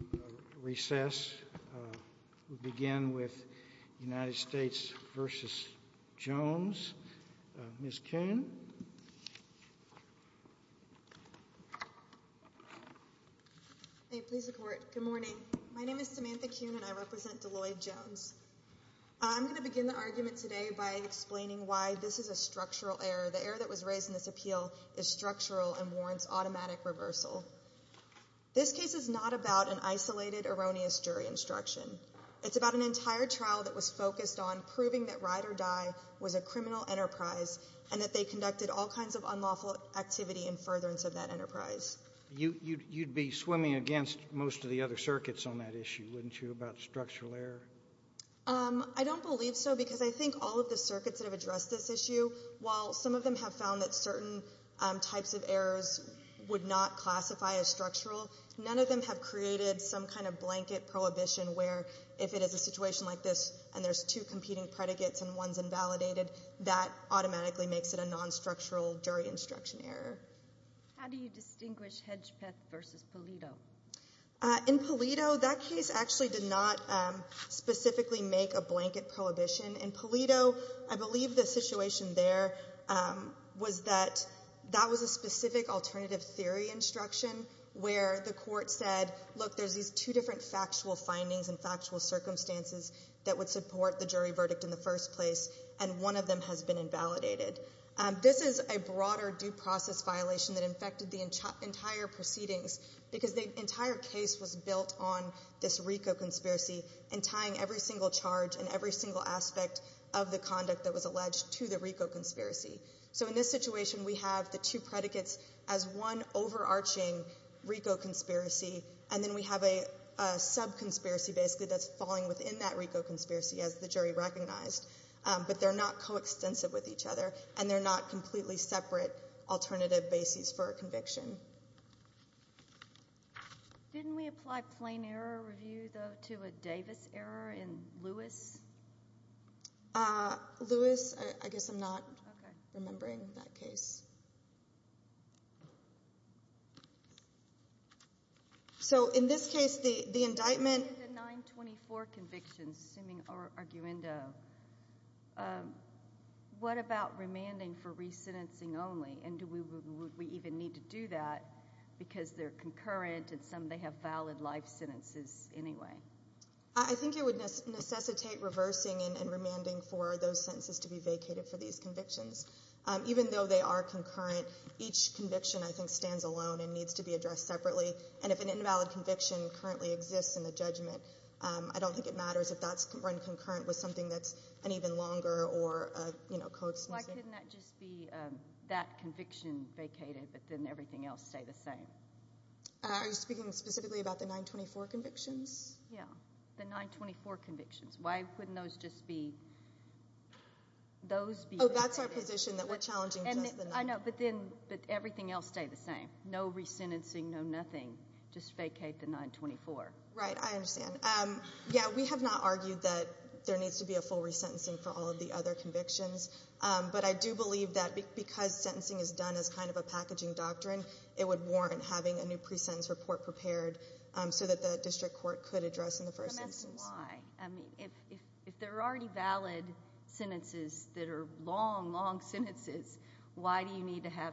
Good morning. My name is Samantha Kuhn, and I represent Deloyd Jones. I'm going to begin the argument today by explaining why this is a structural error. The error that was raised in this appeal is structural and warrants automatic reversal. This case is not about an isolated, erroneous jury instruction. It's about an entire trial that was focused on proving that Ride or Die was a criminal enterprise and that they conducted all kinds of unlawful activity in furtherance of that enterprise. You'd be swimming against most of the other circuits on that issue, wouldn't you, about structural error? I don't believe so, because I think all of the circuits that have addressed this issue, while some of them have found that certain types of errors would not classify as structural, none of them have created some kind of blanket prohibition where, if it is a situation like this and there's two competing predicates and one's invalidated, that automatically makes it a non-structural jury instruction error. How do you distinguish Hedgepeth v. Polito? In Polito, that case actually did not specifically make a blanket prohibition. In Polito, I believe the situation there was that that was a specific alternative theory instruction where the court said, look, there's these two different factual findings and factual circumstances that would support the jury verdict in the first place, and one of them has been invalidated. This is a broader due process violation that infected the entire proceedings, because the entire case was built on this RICO conspiracy and tying every single charge and every single aspect of the conduct that was alleged to the RICO conspiracy. So in this situation, we have the two predicates as one overarching RICO conspiracy, and then we have a sub-conspiracy basically that's falling within that RICO conspiracy, as the jury recognized, but they're not coextensive with each other, and they're not completely separate alternative bases for a conviction. Didn't we apply plain error review, though, to a Davis error in Lewis? Lewis, I guess I'm not remembering that case. So in this case, the indictment... The 924 conviction, assuming arguendo, what about remanding for resentencing only, and do we even need to do that, because they're concurrent, and some of them have valid life sentences anyway? I think it would necessitate reversing and remanding for those sentences to be vacated for these convictions. Even though they are concurrent, each conviction, I think, stands alone and needs to be addressed separately, and if an invalid conviction currently exists in the judgment, I don't think it matters if that's run concurrent with something that's an even longer or, you know, coextensive... Why couldn't that just be that conviction vacated, but then everything else stay the same? Are you speaking specifically about the 924 convictions? Yeah. The 924 convictions. Why couldn't those just be... Those be vacated... Oh, that's our position, that we're challenging just the 924. I know, but then, but everything else stay the same. No resentencing, no nothing. Just vacate the 924. Right. I understand. Yeah, we have not argued that there needs to be a full resentencing for all of the other convictions, but I do believe that because sentencing is done as kind of a packaging doctrine, it would warrant having a new pre-sentence report prepared so that the district court could address in the first instance. Can I ask why? I mean, if there are already valid sentences that are long, long sentences, why do you need to have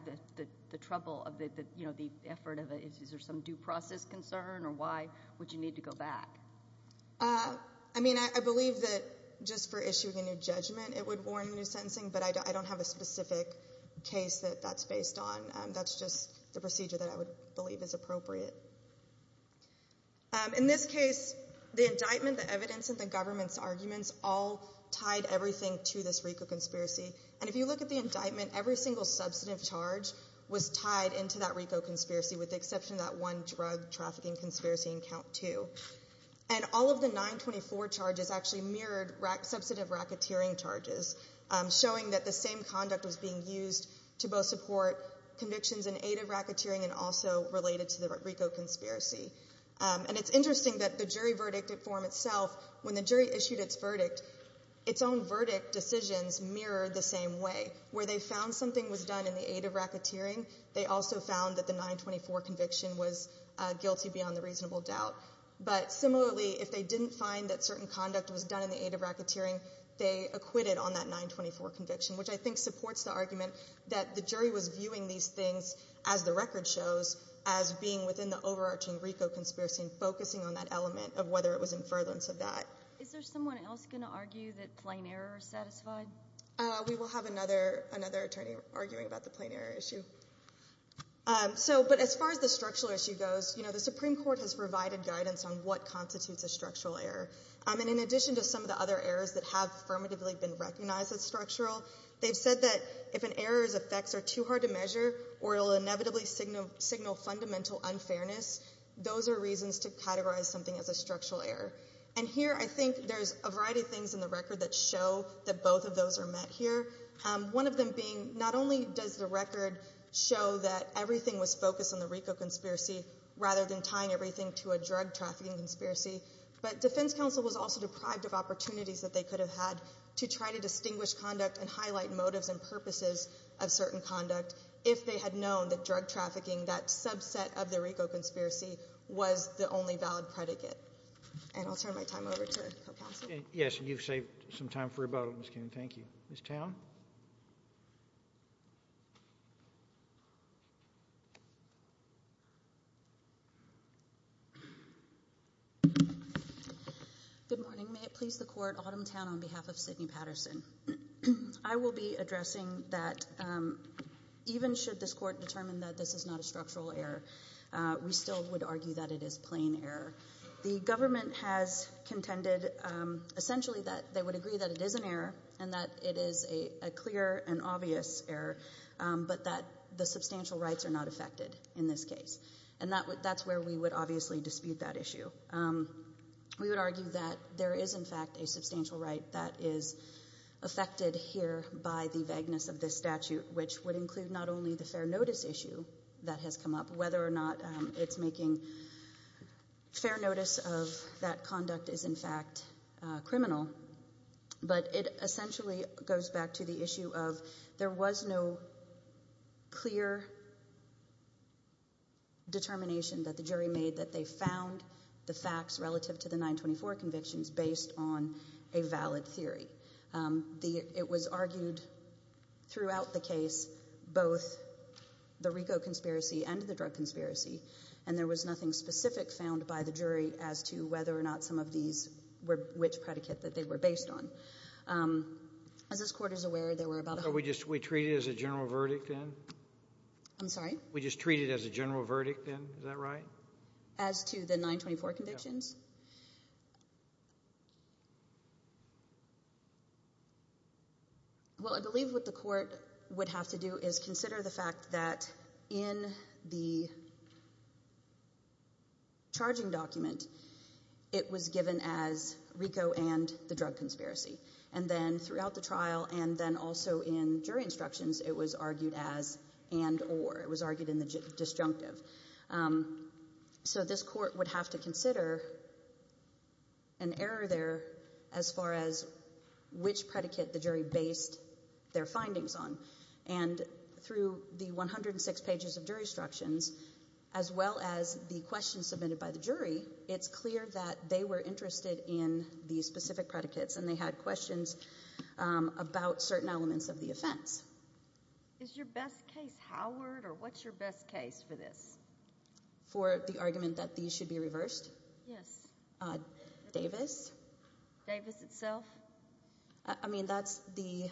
the trouble of the, you know, the effort of, is there some due process concern or why would you need to go back? I mean, I believe that just for issuing a new judgment, it would warrant a new sentencing, but I don't have a specific case that that's based on. That's just the procedure that I would believe is appropriate. In this case, the indictment, the evidence, and the government's arguments all tied everything to this RICO conspiracy, and if you look at the indictment, every single substantive charge was tied into that RICO conspiracy with the exception of that one drug trafficking conspiracy in count two. And all of the 924 charges actually mirrored substantive racketeering charges, showing that the same conduct was being used to both support convictions in aid of racketeering and also related to the RICO conspiracy. And it's interesting that the jury verdict form itself, when the jury issued its verdict, its own verdict decisions mirrored the same way, where they found something was done in the aid of racketeering, they also found that the 924 conviction was guilty beyond the reasonable doubt. But similarly, if they didn't find that certain conduct was done in the aid of racketeering, they acquitted on that 924 conviction, which I think supports the argument that the jury was viewing these things, as the record shows, as being within the overarching RICO conspiracy and focusing on that element of whether it was in furtherance of that. Is there someone else going to argue that plain error is satisfied? We will have another attorney arguing about the plain error issue. As far as the structural issue goes, the Supreme Court has provided guidance on what constitutes a structural error. And in addition to some of the other errors that have affirmatively been recognized as structural, they've said that if an error's effects are too hard to measure, or it will inevitably signal fundamental unfairness, those are reasons to categorize something as a structural error. And here I think there's a variety of things in the record that show that both of those are met here, one of them being not only does the record show that everything was focused on the RICO conspiracy rather than tying everything to a drug trafficking conspiracy, but defense counsel was also deprived of opportunities that they could have had to try to distinguish conduct and highlight motives and purposes of certain conduct if they had known that drug trafficking, that subset of the RICO conspiracy, was the only valid predicate. And I'll turn my time over to co-counsel. Yes. You've saved some time for rebuttal, Ms. Kuhn. Thank you. Ms. Town? Good morning. May it please the Court, Autumntown, on behalf of Sidney Patterson. I will be addressing that even should this Court determine that this is not a structural error, we still would argue that it is plain error. The government has contended essentially that they would agree that it is an error and that it is a clear and obvious error, but that the substantial rights are not affected in this case. And that's where we would obviously dispute that issue. We would argue that there is, in fact, a substantial right that is affected here by the vagueness of this statute, which would include not only the fair notice issue that has come up, whether or not it's making fair notice of that conduct is in fact criminal, but it essentially goes back to the issue of there was no clear determination that the jury made that they found the facts relative to the 924 convictions based on a valid theory. It was argued throughout the case, both the RICO conspiracy and the drug conspiracy, and there was nothing specific found by the jury as to whether or not some of these were which predicate that they were based on. As this Court is aware, there were about a hundred... So we just treat it as a general verdict, then? I'm sorry? We just treat it as a general verdict, then? Is that right? As to the 924 convictions? Well, I believe what the Court would have to do is consider the fact that in the charging document, it was given as RICO and the drug conspiracy. And then throughout the trial and then also in jury instructions, it was argued as and or. It was argued in the disjunctive. So this Court would have to consider an error there as far as which predicate the jury based their findings on. And through the 106 pages of jury instructions, as well as the questions submitted by the jury, it's clear that they were interested in these specific predicates, and they had questions about certain elements of the offense. Is your best case Howard, or what's your best case for this? For the argument that these should be reversed? Yes. Davis? Davis itself? I mean, that's the...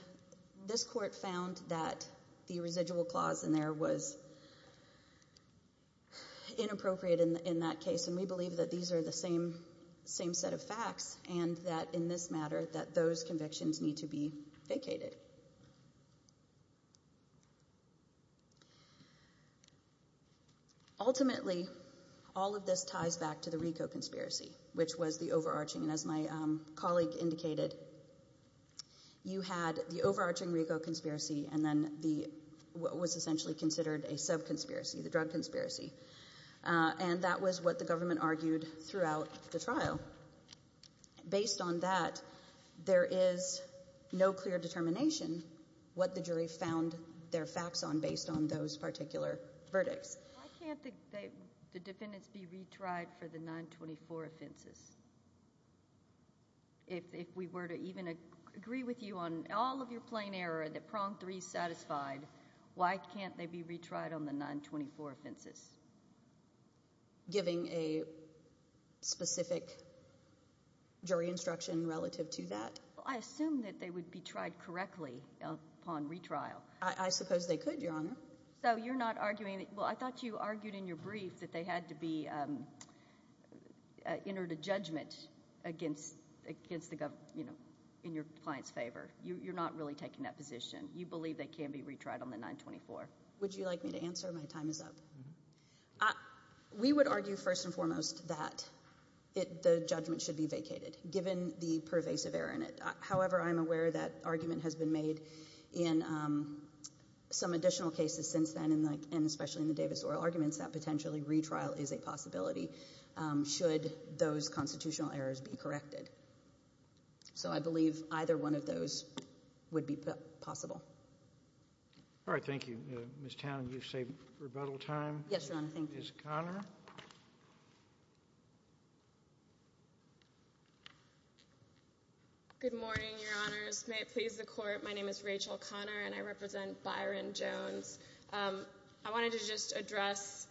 This Court found that the residual clause in there was inappropriate in that case, and we believe that these are the same set of facts, and that in this matter, that those convictions need to be vacated. Ultimately, all of this ties back to the RICO conspiracy, which was the overarching. And as my colleague indicated, you had the overarching RICO conspiracy, and then the what was essentially considered a sub-conspiracy, the drug conspiracy. And that was what the government argued throughout the trial. So, based on that, there is no clear determination what the jury found their facts on, based on those particular verdicts. Why can't the defendants be retried for the 924 offenses? If we were to even agree with you on all of your plain error, that prong 3 is satisfied, why can't they be retried on the 924 offenses? Giving a specific jury instruction relative to that? I assume that they would be tried correctly upon retrial. I suppose they could, Your Honor. So you're not arguing... Well, I thought you argued in your brief that they had to be entered a judgment against the government, you know, in your client's favor. You're not really taking that position. You believe they can be retried on the 924. Would you like me to answer? My time is up. We would argue, first and foremost, that the judgment should be vacated, given the pervasive error in it. However, I'm aware that argument has been made in some additional cases since then, and especially in the Davis Oral Arguments, that potentially retrial is a possibility, should those constitutional errors be corrected. So I believe either one of those would be possible. All right. Thank you. Ms. Town, you say rebuttal time? Yes, Your Honor. Thank you. Ms. Conner? Good morning, Your Honors. May it please the Court, my name is Rachel Conner, and I represent Byron Jones. I wanted to just address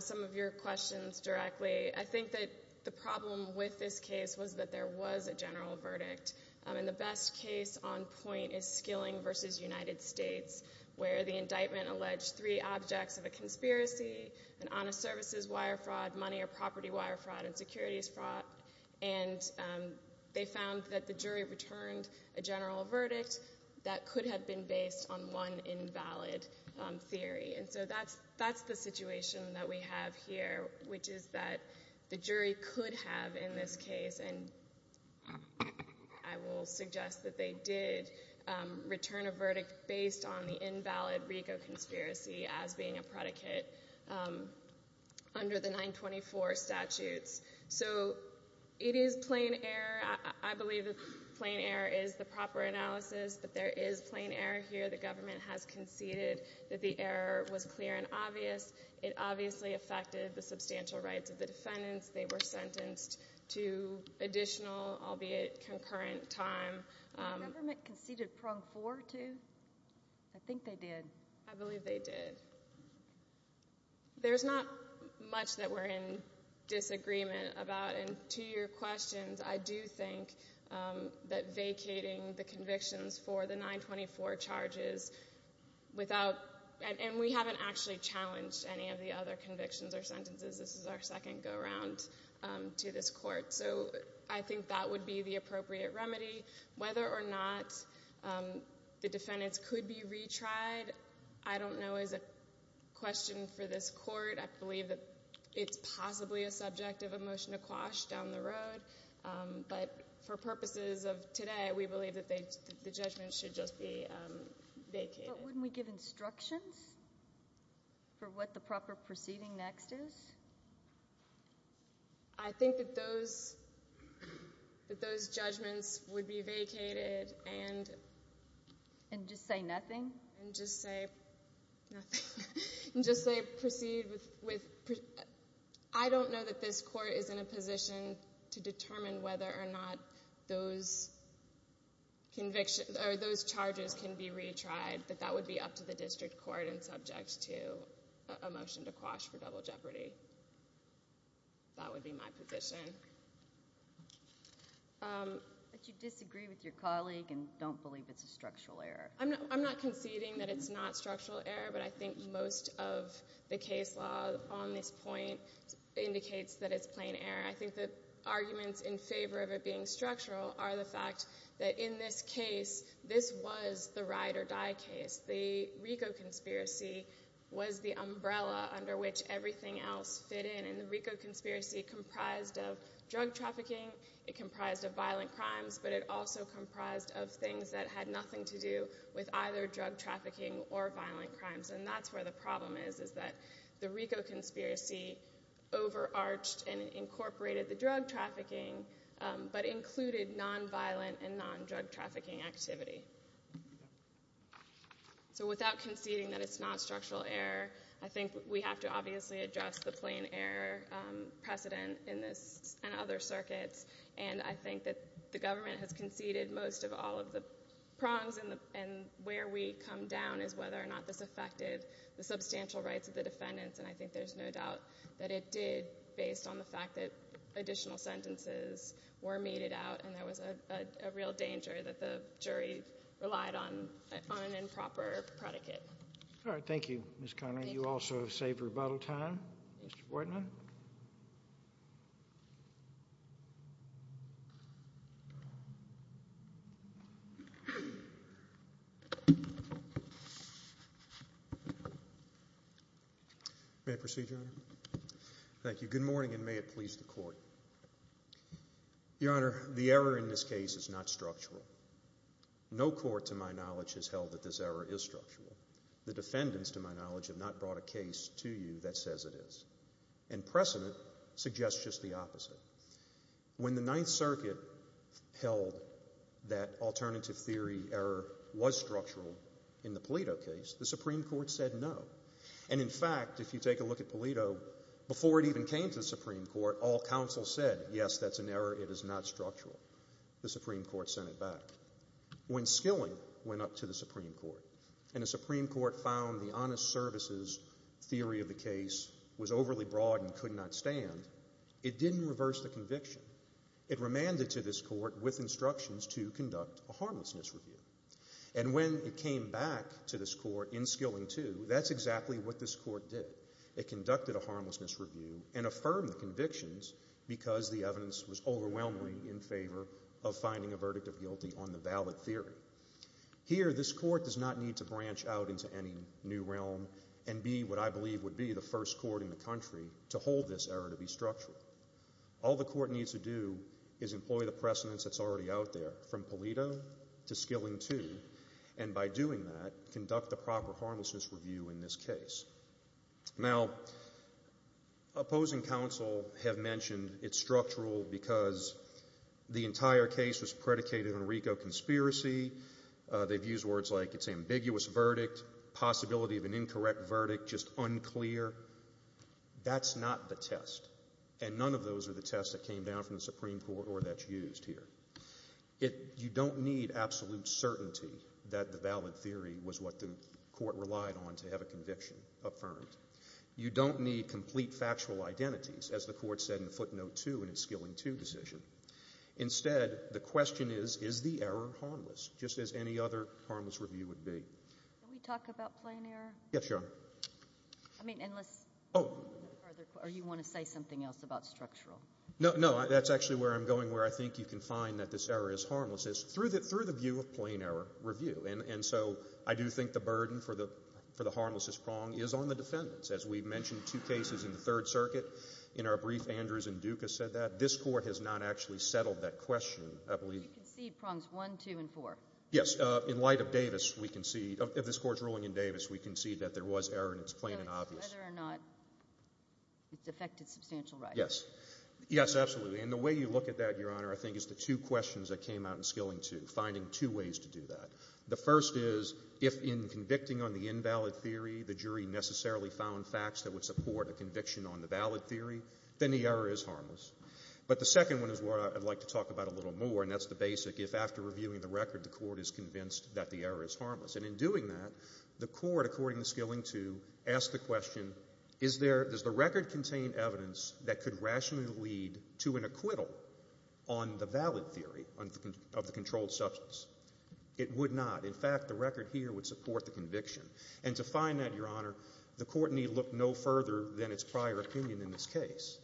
some of your questions directly. I think that the problem with this case was that there was a general verdict, and the best case on point is Skilling v. United States, where the indictment alleged three objects of a conspiracy, an honest services wire fraud, money or property wire fraud, and securities fraud. And they found that the jury returned a general verdict that could have been based on one invalid theory. And so that's the situation that we have here, which is that the jury could have in this case, and I will suggest that they did return a verdict based on the invalid RICO conspiracy as being a predicate under the 924 statutes. So it is plain error. I believe that plain error is the proper analysis, but there is plain error here. The government has conceded that the error was clear and obvious. It obviously affected the substantial rights of the defendants. They were sentenced to additional, albeit concurrent, time. The government conceded prong four, too? I think they did. I believe they did. There's not much that we're in disagreement about, and to your questions, I do think that vacating the convictions for the 924 charges without—and we haven't actually challenged any of the other convictions or sentences. This is our second go-around to this court. So I think that would be the appropriate remedy. Whether or not the defendants could be retried, I don't know, is a question for this court. I believe that it's possibly a subject of a motion to quash down the road, but for purposes of today, we believe that the judgment should just be vacated. But wouldn't we give instructions for what the proper proceeding next is? I think that those judgments would be vacated and— And just say nothing? And just say nothing. And just say proceed with—I don't know that this court is in a position to determine whether or not those charges can be retried, but that would be up to the district court and subject to a motion to quash for double jeopardy. That would be my position. But you disagree with your colleague and don't believe it's a structural error. I'm not conceding that it's not structural error, but I think most of the case law on this point indicates that it's plain error. I think the arguments in favor of it being structural are the fact that in this case, this was the ride-or-die case. The RICO conspiracy was the umbrella under which everything else fit in, and the RICO conspiracy comprised of drug trafficking, it comprised of violent crimes, but it also comprised of things that had nothing to do with either drug trafficking or violent crimes. And that's where the problem is, is that the RICO conspiracy overarched and incorporated the drug trafficking, but included nonviolent and non-drug trafficking activity. So without conceding that it's not structural error, I think we have to obviously address the plain error precedent in this and other circuits, and I think that the government has conceded most of all of the prongs, and where we come down is whether or not this affected the substantial rights of the defendants, and I think there's no doubt that it did based on the fact that additional sentences were meted out, and there was a real danger that the jury relied on an improper predicate. All right. Thank you, Ms. Connelly. Thank you. You also have saved rebuttal time, Mr. Bortman. May I proceed, Your Honor? Thank you. Good morning, and may it please the Court. Your Honor, the error in this case is not structural. No court to my knowledge has held that this error is structural. The defendants, to my knowledge, have not brought a case to you that says it is. And precedent suggests just the opposite. When the Ninth Circuit held that alternative theory error was structural in the Polito case, the Supreme Court said no, and in fact, if you take a look at Polito, before it even came to the Supreme Court, all counsel said, yes, that's an error, it is not structural. The Supreme Court sent it back. When Skilling went up to the Supreme Court and the Supreme Court found the honest services theory of the case was overly broad and could not stand, it didn't reverse the conviction. It remanded to this court with instructions to conduct a harmlessness review. And when it came back to this court in Skilling II, that's exactly what this court did. It conducted a harmlessness review and affirmed the convictions because the evidence was overwhelmingly in favor of finding a verdict of guilty on the valid theory. Here, this court does not need to branch out into any new realm and be what I believe would be the first court in the country to hold this error to be structural. All the court needs to do is employ the precedence that's already out there from Polito to Skilling II, and by doing that, conduct the proper harmlessness review in this case. Now, opposing counsel have mentioned it's structural because the entire case was predicated on a RICO conspiracy, they've used words like it's an ambiguous verdict, possibility of an incorrect verdict, just unclear. That's not the test, and none of those are the tests that came down from the Supreme Court or that's used here. You don't need absolute certainty that the valid theory was what the court relied on to have a conviction affirmed. You don't need complete factual identities, as the court said in footnote two in its Skilling II decision. Instead, the question is, is the error harmless, just as any other harmless review would be? Can we talk about plain error? Yes, Your Honor. I mean, unless you want to say something else about structural. No, that's actually where I'm going, where I think you can find that this error is harmless, through the view of plain error review. And so, I do think the burden for the harmlessest prong is on the defendants. As we've mentioned two cases in the Third Circuit, in our brief, Andrews and Duke have said that. This Court has not actually settled that question, I believe. You concede prongs one, two, and four. Yes. In light of Davis, we concede, of this Court's ruling in Davis, we concede that there was error in its plain and obvious. So it's whether or not it's affected substantial rights. Yes. Yes, absolutely. And the way you look at that, Your Honor, I think is the two questions that came out in Skilling II, finding two ways to do that. The first is, if in convicting on the invalid theory, the jury necessarily found facts that would support a conviction on the valid theory, then the error is harmless. But the second one is what I'd like to talk about a little more, and that's the basic, if after reviewing the record, the Court is convinced that the error is harmless. And in doing that, the Court, according to Skilling II, asked the question, is there — does the record contain evidence that could rationally lead to an acquittal on the valid theory of the controlled substance? It would not. In fact, the record here would support the conviction. And to find that, Your Honor, the Court need look no further than its prior opinion in this case.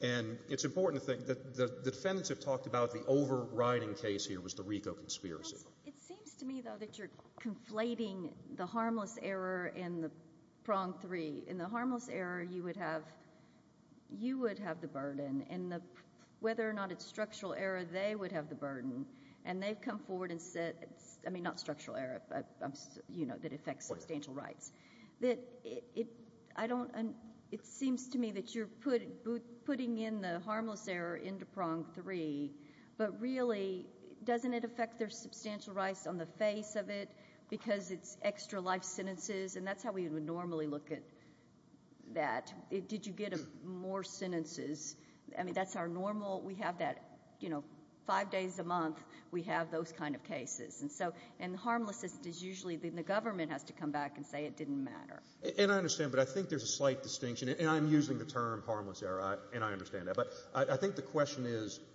And it's important to think that the defendants have talked about the overriding case here was the RICO conspiracy. It seems to me, though, that you're conflating the harmless error and the prong three. In the harmless error, you would have — you would have the burden, and the — whether or not it's structural error, they would have the burden. And they've come forward and said — I mean, not structural error, but, you know, that affects substantial rights — that it — I don't — it seems to me that you're putting in the harmless error into prong three, but really, doesn't it affect their substantial rights on the face of it because it's extra life sentences? And that's how we would normally look at that. Did you get more sentences? I mean, that's our normal — we have that, you know, five days a month. We have those kind of cases. And so — and the harmless is usually — the government has to come back and say it didn't matter. And I understand, but I think there's a slight distinction. And I'm using the term harmless error, and I understand that. But I think the question is —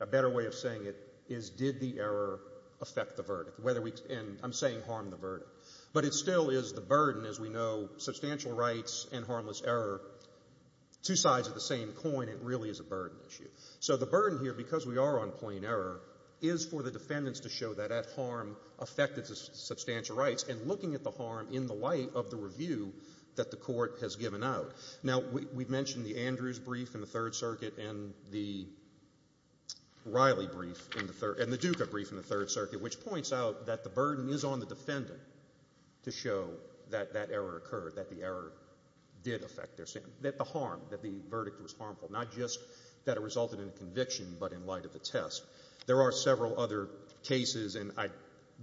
a better way of saying it is did the error affect the verdict? Whether we — and I'm saying harm the verdict. But it still is the burden, as we know, substantial rights and harmless error, two sides of the same coin. It really is a burden issue. So the burden here, because we are on plain error, is for the defendants to show that that harm affected the substantial rights, and looking at the harm in the light of the review that the court has given out. Now, we mentioned the Andrews brief in the Third Circuit and the Riley brief in the — and the Duca brief in the Third Circuit, which points out that the burden is on the defendant to show that that error occurred, that the error did affect their — that the harm, that the verdict was harmful, not just that it resulted in a conviction, but in light of the test. There are several other cases, and I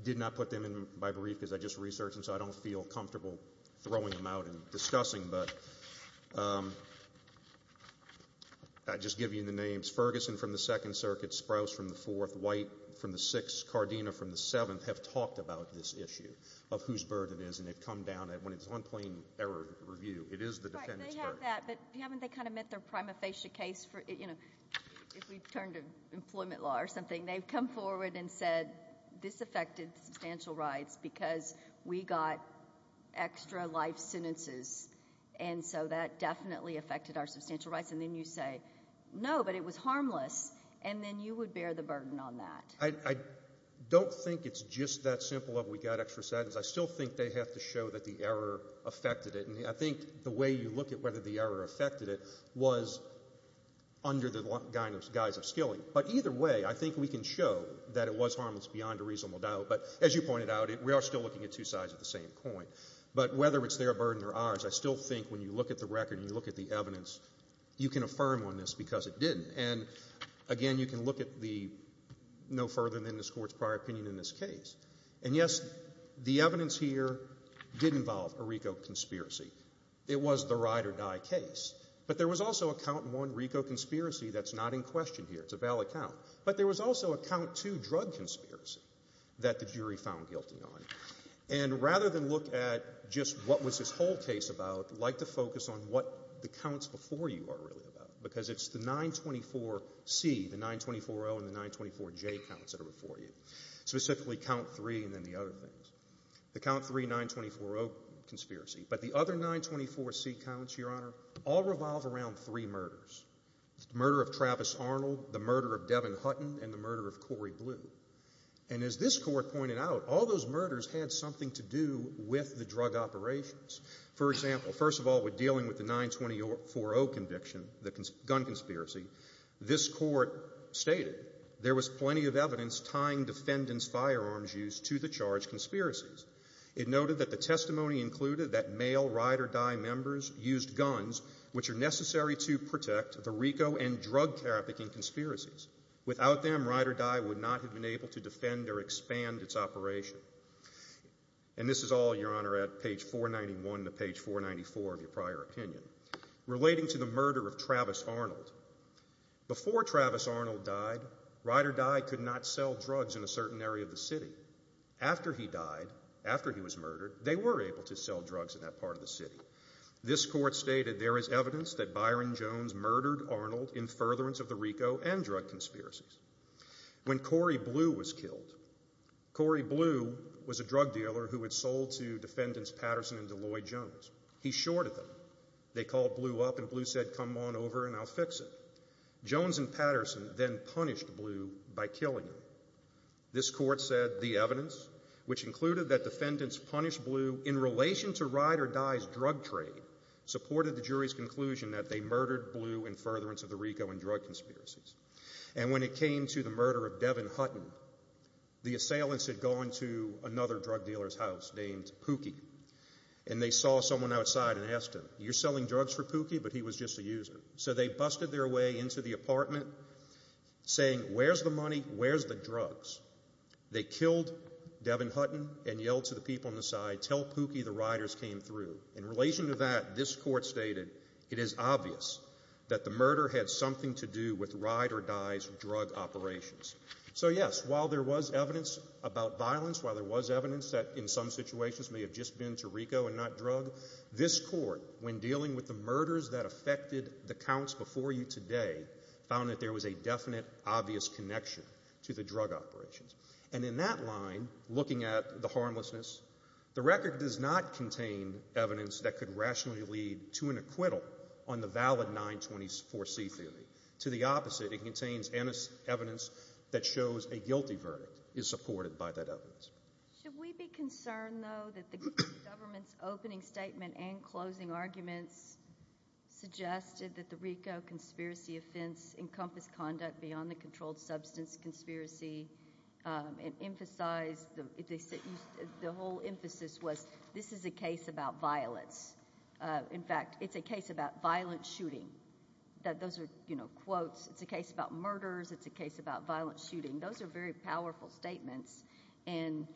did not put them in my brief because I just researched them, so I don't feel comfortable throwing them out and discussing, but I'll just give you the names. Ferguson from the Second Circuit, Sprouse from the Fourth, White from the Sixth, Cardina from the Seventh have talked about this issue of whose burden it is, and they've come down to that. But haven't they kind of met their prima facie case for — you know, if we turn to employment law or something, they've come forward and said, this affected substantial rights because we got extra life sentences, and so that definitely affected our substantial rights. And then you say, no, but it was harmless, and then you would bear the burden on that. I don't think it's just that simple of we got extra sentences. I still think they have to show that the error affected it, and I think the way you look at whether the error affected it was under the guise of skilling. But either way, I think we can show that it was harmless beyond a reasonable doubt. But as you pointed out, we are still looking at two sides of the same coin. But whether it's their burden or ours, I still think when you look at the record and you look at the evidence, you can affirm on this because it didn't. And again, you can look at the no further than this Court's prior opinion in this case. And yes, the evidence here did involve a RICO conspiracy. It was the ride-or-die case, but there was also a count one RICO conspiracy that's not in question here. It's a valid count. But there was also a count two drug conspiracy that the jury found guilty on. And rather than look at just what was this whole case about, I'd like to focus on what the counts before you are really about, because it's the 924C, the 924O, and the 924J counts that are before you, specifically count three and then the other things. The count three 924O conspiracy. But the other 924C counts, Your Honor, all revolve around three murders, the murder of Travis Arnold, the murder of Devin Hutton, and the murder of Corey Blue. And as this Court pointed out, all those murders had something to do with the drug operations. For example, first of all, we're dealing with the 924O conviction, the gun conspiracy. This Court stated there was plenty of evidence tying defendant's firearms use to the charge of conspiracies. It noted that the testimony included that male Ride or Die members used guns which are necessary to protect the RICO and drug trafficking conspiracies. Without them, Ride or Die would not have been able to defend or expand its operation. And this is all, Your Honor, at page 491 to page 494 of your prior opinion. Relating to the murder of Travis Arnold. Before Travis Arnold died, Ride or Die could not sell drugs in a certain area of the city. After he died, after he was murdered, they were able to sell drugs in that part of the city. This Court stated there is evidence that Byron Jones murdered Arnold in furtherance of the RICO and drug conspiracies. When Corey Blue was killed, Corey Blue was a drug dealer who had sold to defendants Patterson and Deloy Jones. He shorted them. They called Blue up and Blue said, come on over and I'll fix it. Jones and Patterson then punished Blue by killing him. This Court said the evidence, which included that defendants punished Blue in relation to Ride or Die's drug trade, supported the jury's conclusion that they murdered Blue in furtherance of the RICO and drug conspiracies. And when it came to the murder of Devin Hutton, the assailants had gone to another drug dealer's house named Pookie and they saw someone outside and asked him, you're selling drugs for Pookie but he was just a user. So they busted their way into the apartment saying, where's the money, where's the drugs? They killed Devin Hutton and yelled to the people on the side, tell Pookie the Riders came through. In relation to that, this Court stated it is obvious that the murder had something to do with Ride or Die's drug operations. So yes, while there was evidence about violence, while there was evidence that in some situations may have just been to RICO and not drug, this Court, when dealing with the murders that counts before you today, found that there was a definite, obvious connection to the drug operations. And in that line, looking at the harmlessness, the record does not contain evidence that could rationally lead to an acquittal on the valid 924C theory. To the opposite, it contains evidence that shows a guilty verdict is supported by that evidence. Should we be concerned, though, that the government's opening statement and closing arguments suggested that the RICO conspiracy offense encompassed conduct beyond the controlled substance conspiracy and emphasized, the whole emphasis was, this is a case about violence. In fact, it's a case about violent shooting. Those are quotes. It's a case about murders. It's a case about violent shooting. Those are very powerful statements. And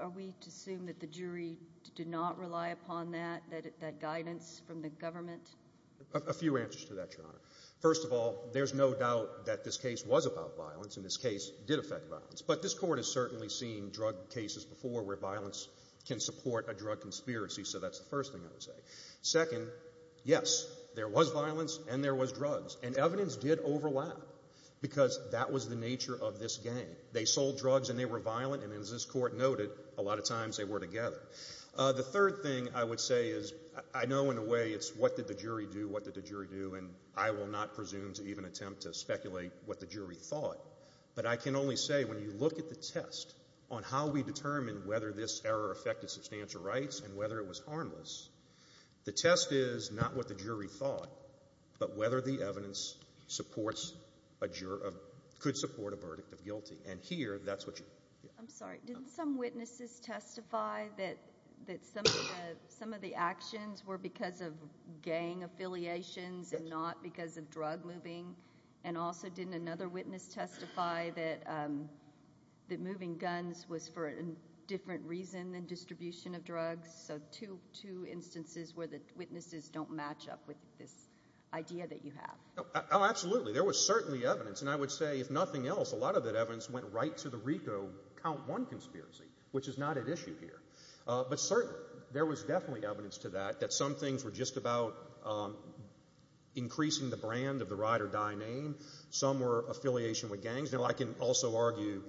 are we to assume that the jury did not rely upon that, that guidance from the government? A few answers to that, Your Honor. First of all, there's no doubt that this case was about violence, and this case did affect violence. But this Court has certainly seen drug cases before where violence can support a drug conspiracy, so that's the first thing I would say. Second, yes, there was violence and there was drugs. And evidence did overlap, because that was the nature of this game. They sold drugs and they were violent, and as this Court noted, a lot of times they were together. The third thing I would say is, I know in a way it's what did the jury do, what did the jury do, and I will not presume to even attempt to speculate what the jury thought. But I can only say, when you look at the test on how we determine whether this error affected substantial rights and whether it was harmless, the test is not what the jury thought, but whether the evidence supports a juror of, could support a verdict of guilty. And here, that's what you. I'm sorry. Did some witnesses testify that some of the actions were because of gang affiliations and not because of drug moving? And also, didn't another witness testify that moving guns was for a different reason than distribution of drugs? So two instances where the witnesses don't match up with this idea that you have. Oh, absolutely. There was certainly evidence, and I would say, if nothing else, a lot of that evidence went right to the RICO Count 1 conspiracy, which is not at issue here. But certainly, there was definitely evidence to that, that some things were just about increasing the brand of the ride-or-die name. Some were affiliation with gangs. Now, I can also argue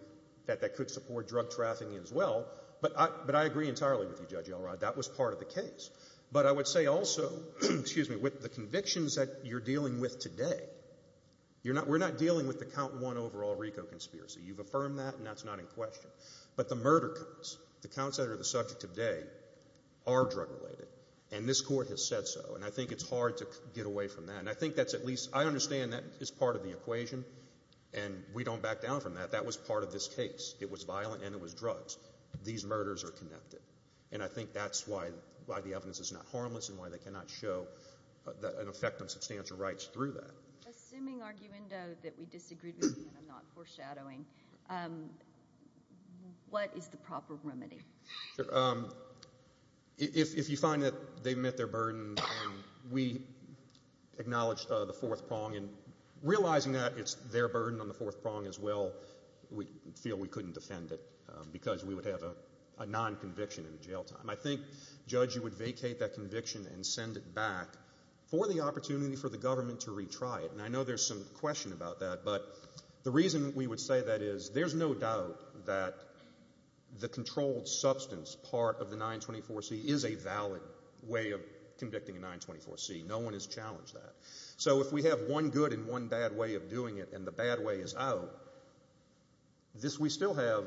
that that could support drug trafficking as well, but I agree entirely with you, Judge Elrod. That was part of the case. But I would say also, with the convictions that you're dealing with today, we're not dealing with the Count 1 overall RICO conspiracy. You've affirmed that, and that's not in question. But the murder counts, the counts that are the subject today, are drug-related. And this Court has said so, and I think it's hard to get away from that. And I think that's at least, I understand that is part of the equation, and we don't back down from that. That was part of this case. It was violent, and it was drugs. These murders are connected. And I think that's why the evidence is not harmless and why they cannot show an effect on substantial rights through that. Assuming, Arguendo, that we disagreed with you, and I'm not foreshadowing, what is the proper remedy? If you find that they've met their burden, we acknowledge the fourth prong. And realizing that it's their burden on the fourth prong as well, we feel we couldn't defend it because we would have a non-conviction in jail time. I think, Judge, you would vacate that conviction and send it back for the opportunity for the trial. And I know there's some question about that. But the reason we would say that is there's no doubt that the controlled substance part of the 924C is a valid way of convicting a 924C. No one has challenged that. So if we have one good and one bad way of doing it, and the bad way is out, we still have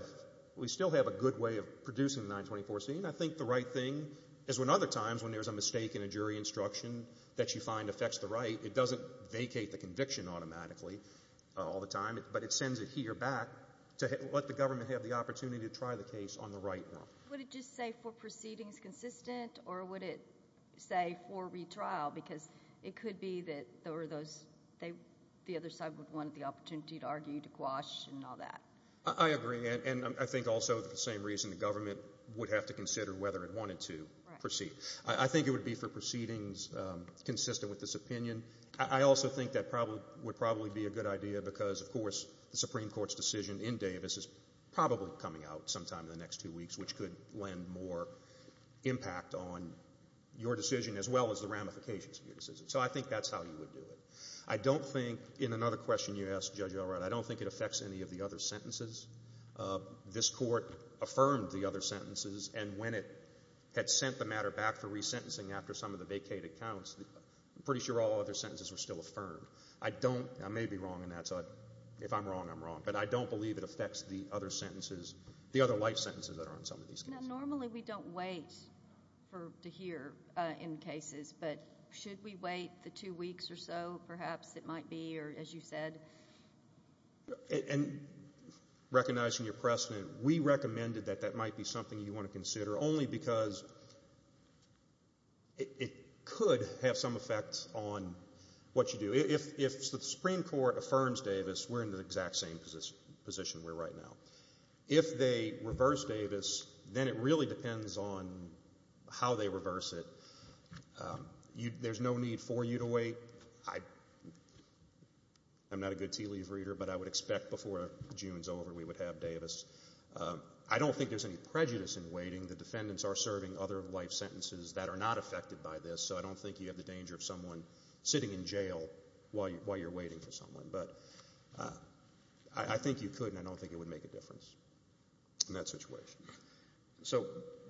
a good way of producing the 924C, and I think the right thing is when other times when there's a mistake in a jury instruction that you find affects the right, it doesn't vacate the conviction automatically all the time, but it sends it here back to let the government have the opportunity to try the case on the right one. Would it just say for proceedings consistent, or would it say for retrial? Because it could be that the other side would want the opportunity to argue, to quash, and all that. I agree. And I think also the same reason the government would have to consider whether it wanted to proceed. I think it would be for proceedings consistent with this opinion. I also think that would probably be a good idea because, of course, the Supreme Court's decision in Davis is probably coming out sometime in the next two weeks, which could land more impact on your decision as well as the ramifications of your decision. So I think that's how you would do it. I don't think, in another question you asked, Judge Elrod, I don't think it affects any of the other sentences. This Court affirmed the other sentences, and when it had sent the matter back for resentencing after some of the vacated counts, I'm pretty sure all other sentences were still affirmed. I don't, I may be wrong in that, so if I'm wrong, I'm wrong, but I don't believe it affects the other sentences, the other life sentences that are on some of these cases. Now, normally we don't wait to hear in cases, but should we wait the two weeks or so, perhaps it might be, or as you said? And recognizing your precedent, we recommended that that might be something you want to consider only because it could have some effect on what you do. If the Supreme Court affirms Davis, we're in the exact same position we're right now. If they reverse Davis, then it really depends on how they reverse it. There's no need for you to wait. I'm not a good tea leaf reader, but I would expect before June's over we would have Davis. I don't think there's any prejudice in waiting. The defendants are serving other life sentences that are not affected by this, so I don't think you have the danger of someone sitting in jail while you're waiting for someone, but I think you could, and I don't think it would make a difference in that situation. So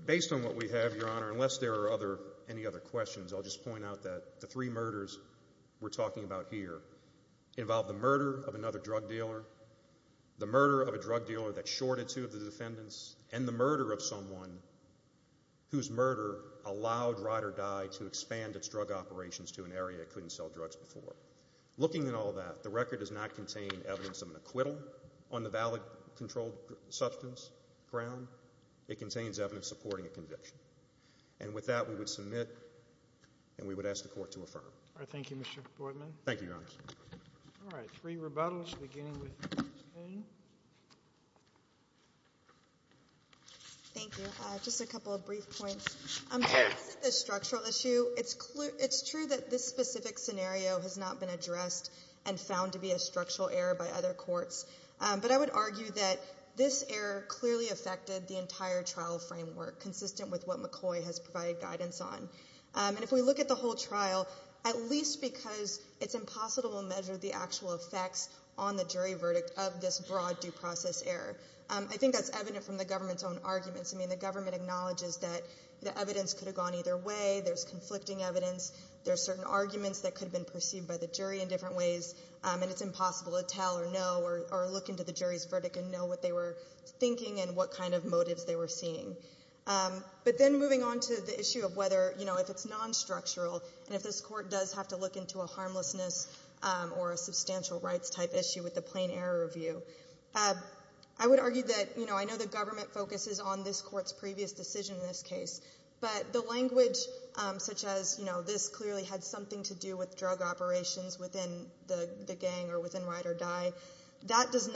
based on what we have, Your Honor, unless there are any other questions, I'll just point out that the three murders we're talking about here involve the murder of another drug dealer, the murder of a drug dealer that shorted two of the defendants, and the murder of someone whose murder allowed Ride or Die to expand its drug operations to an area it couldn't sell drugs before. Looking at all that, the record does not contain evidence of an acquittal on the valid controlled substance ground. It contains evidence supporting a conviction, and with that, we would submit and we would ask the Court to affirm. All right. Thank you, Mr. Portman. Thank you, Your Honor. All right. Three rebuttals, beginning with Ms. Cain. Thank you. Just a couple of brief points. To answer the structural issue, it's true that this specific scenario has not been addressed and found to be a structural error by other courts, but I would argue that this error clearly affected the entire trial framework, consistent with what McCoy has provided guidance on. And if we look at the whole trial, at least because it's impossible to measure the actual effects on the jury verdict of this broad due process error, I think that's evident from the government's own arguments. I mean, the government acknowledges that the evidence could have gone either way, there's conflicting evidence, there's certain arguments that could have been perceived by the jury in different ways, and it's impossible to tell or know or look into the jury's verdict and know what they were thinking and what kind of motives they were seeing. But then moving on to the issue of whether, you know, if it's non-structural and if this court does have to look into a harmlessness or a substantial rights-type issue with the plain error review, I would argue that, you know, I know the government focuses on this court's previous decision in this case, but the language such as, you know, this clearly had something to do with drug operations within the gang or within Ride or Die, that's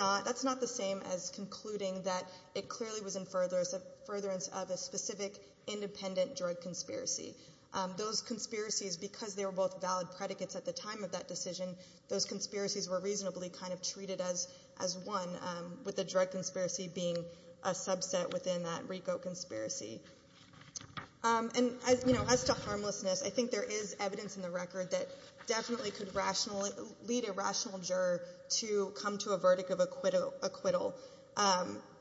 not the same as concluding that it clearly was in furtherance of a specific, independent drug conspiracy. Those conspiracies, because they were both valid predicates at the time of that decision, those conspiracies were reasonably kind of treated as one, with the drug conspiracy being a subset within that RICO conspiracy. And as, you know, as to harmlessness, I think there is evidence in the record that definitely could rationally lead a rational juror to come to a verdict of acquittal.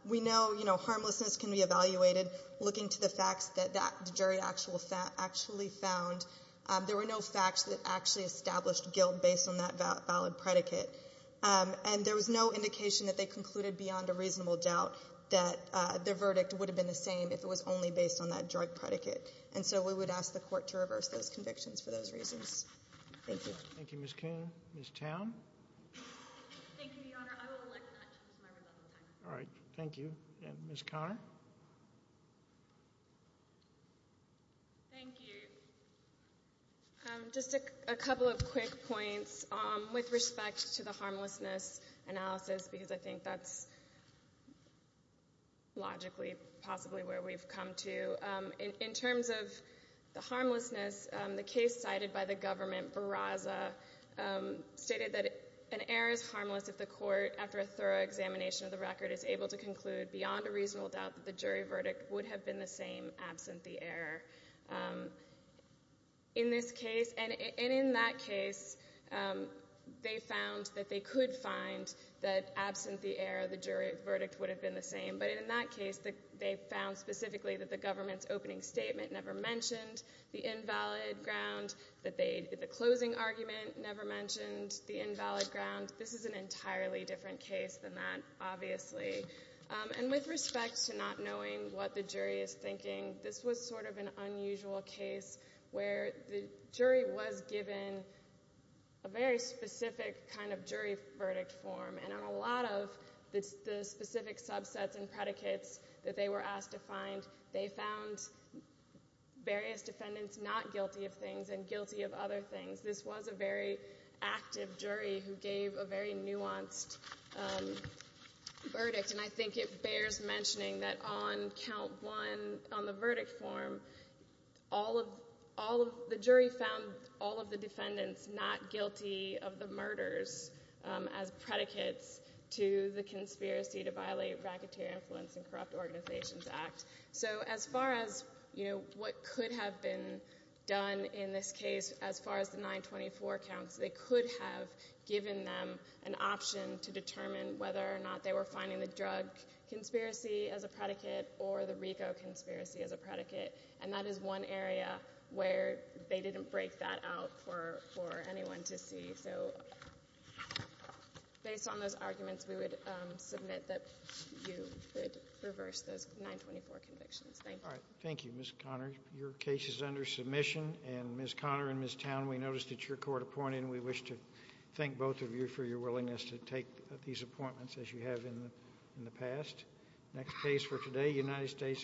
We know, you know, harmlessness can be evaluated looking to the facts that that jury actually found. There were no facts that actually established guilt based on that valid predicate. And there was no indication that they concluded beyond a reasonable doubt that their verdict would have been the same if it was only based on that drug predicate. And so we would ask the Court to reverse those convictions for those reasons. Thank you. Thank you, Ms. Kuhn. Ms. Town? Thank you, Your Honor. I would like to not change my rebuttal time. All right. Thank you. And Ms. Conner? Thank you. Just a couple of quick points with respect to the harmlessness analysis, because I think that's logically possibly where we've come to. In terms of the harmlessness, the case cited by the government, Barraza, stated that an error is harmless if the Court, after a thorough examination of the record, is able to conclude beyond a reasonable doubt that the jury verdict would have been the same absent the error. In this case, and in that case, they found that they could find that absent the error, the jury verdict would have been the same, but in that case, they found specifically that the government's opening statement never mentioned the invalid ground, that the closing argument never mentioned the invalid ground. This is an entirely different case than that, obviously. And with respect to not knowing what the jury is thinking, this was sort of an unusual case where the jury was given a very specific kind of jury verdict form, and on a lot of the specific subsets and predicates that they were asked to find, they found various defendants not guilty of things and guilty of other things. This was a very active jury who gave a very nuanced verdict, and I think it bears mentioning that on count one on the verdict form, all of the jury found all of the defendants not to the conspiracy to violate Racketeer Influence and Corrupt Organizations Act. So as far as, you know, what could have been done in this case, as far as the 924 counts, they could have given them an option to determine whether or not they were finding the drug conspiracy as a predicate or the RICO conspiracy as a predicate, and that is one area where they didn't break that out for anyone to see. So based on those arguments, we would submit that you would reverse those 924 convictions. Thank you. All right. Thank you, Ms. Conner. Your case is under submission, and Ms. Conner and Ms. Town, we noticed that you're court appointed, and we wish to thank both of you for your willingness to take these appointments as you have in the past. Next case for today, United States v. McConnell.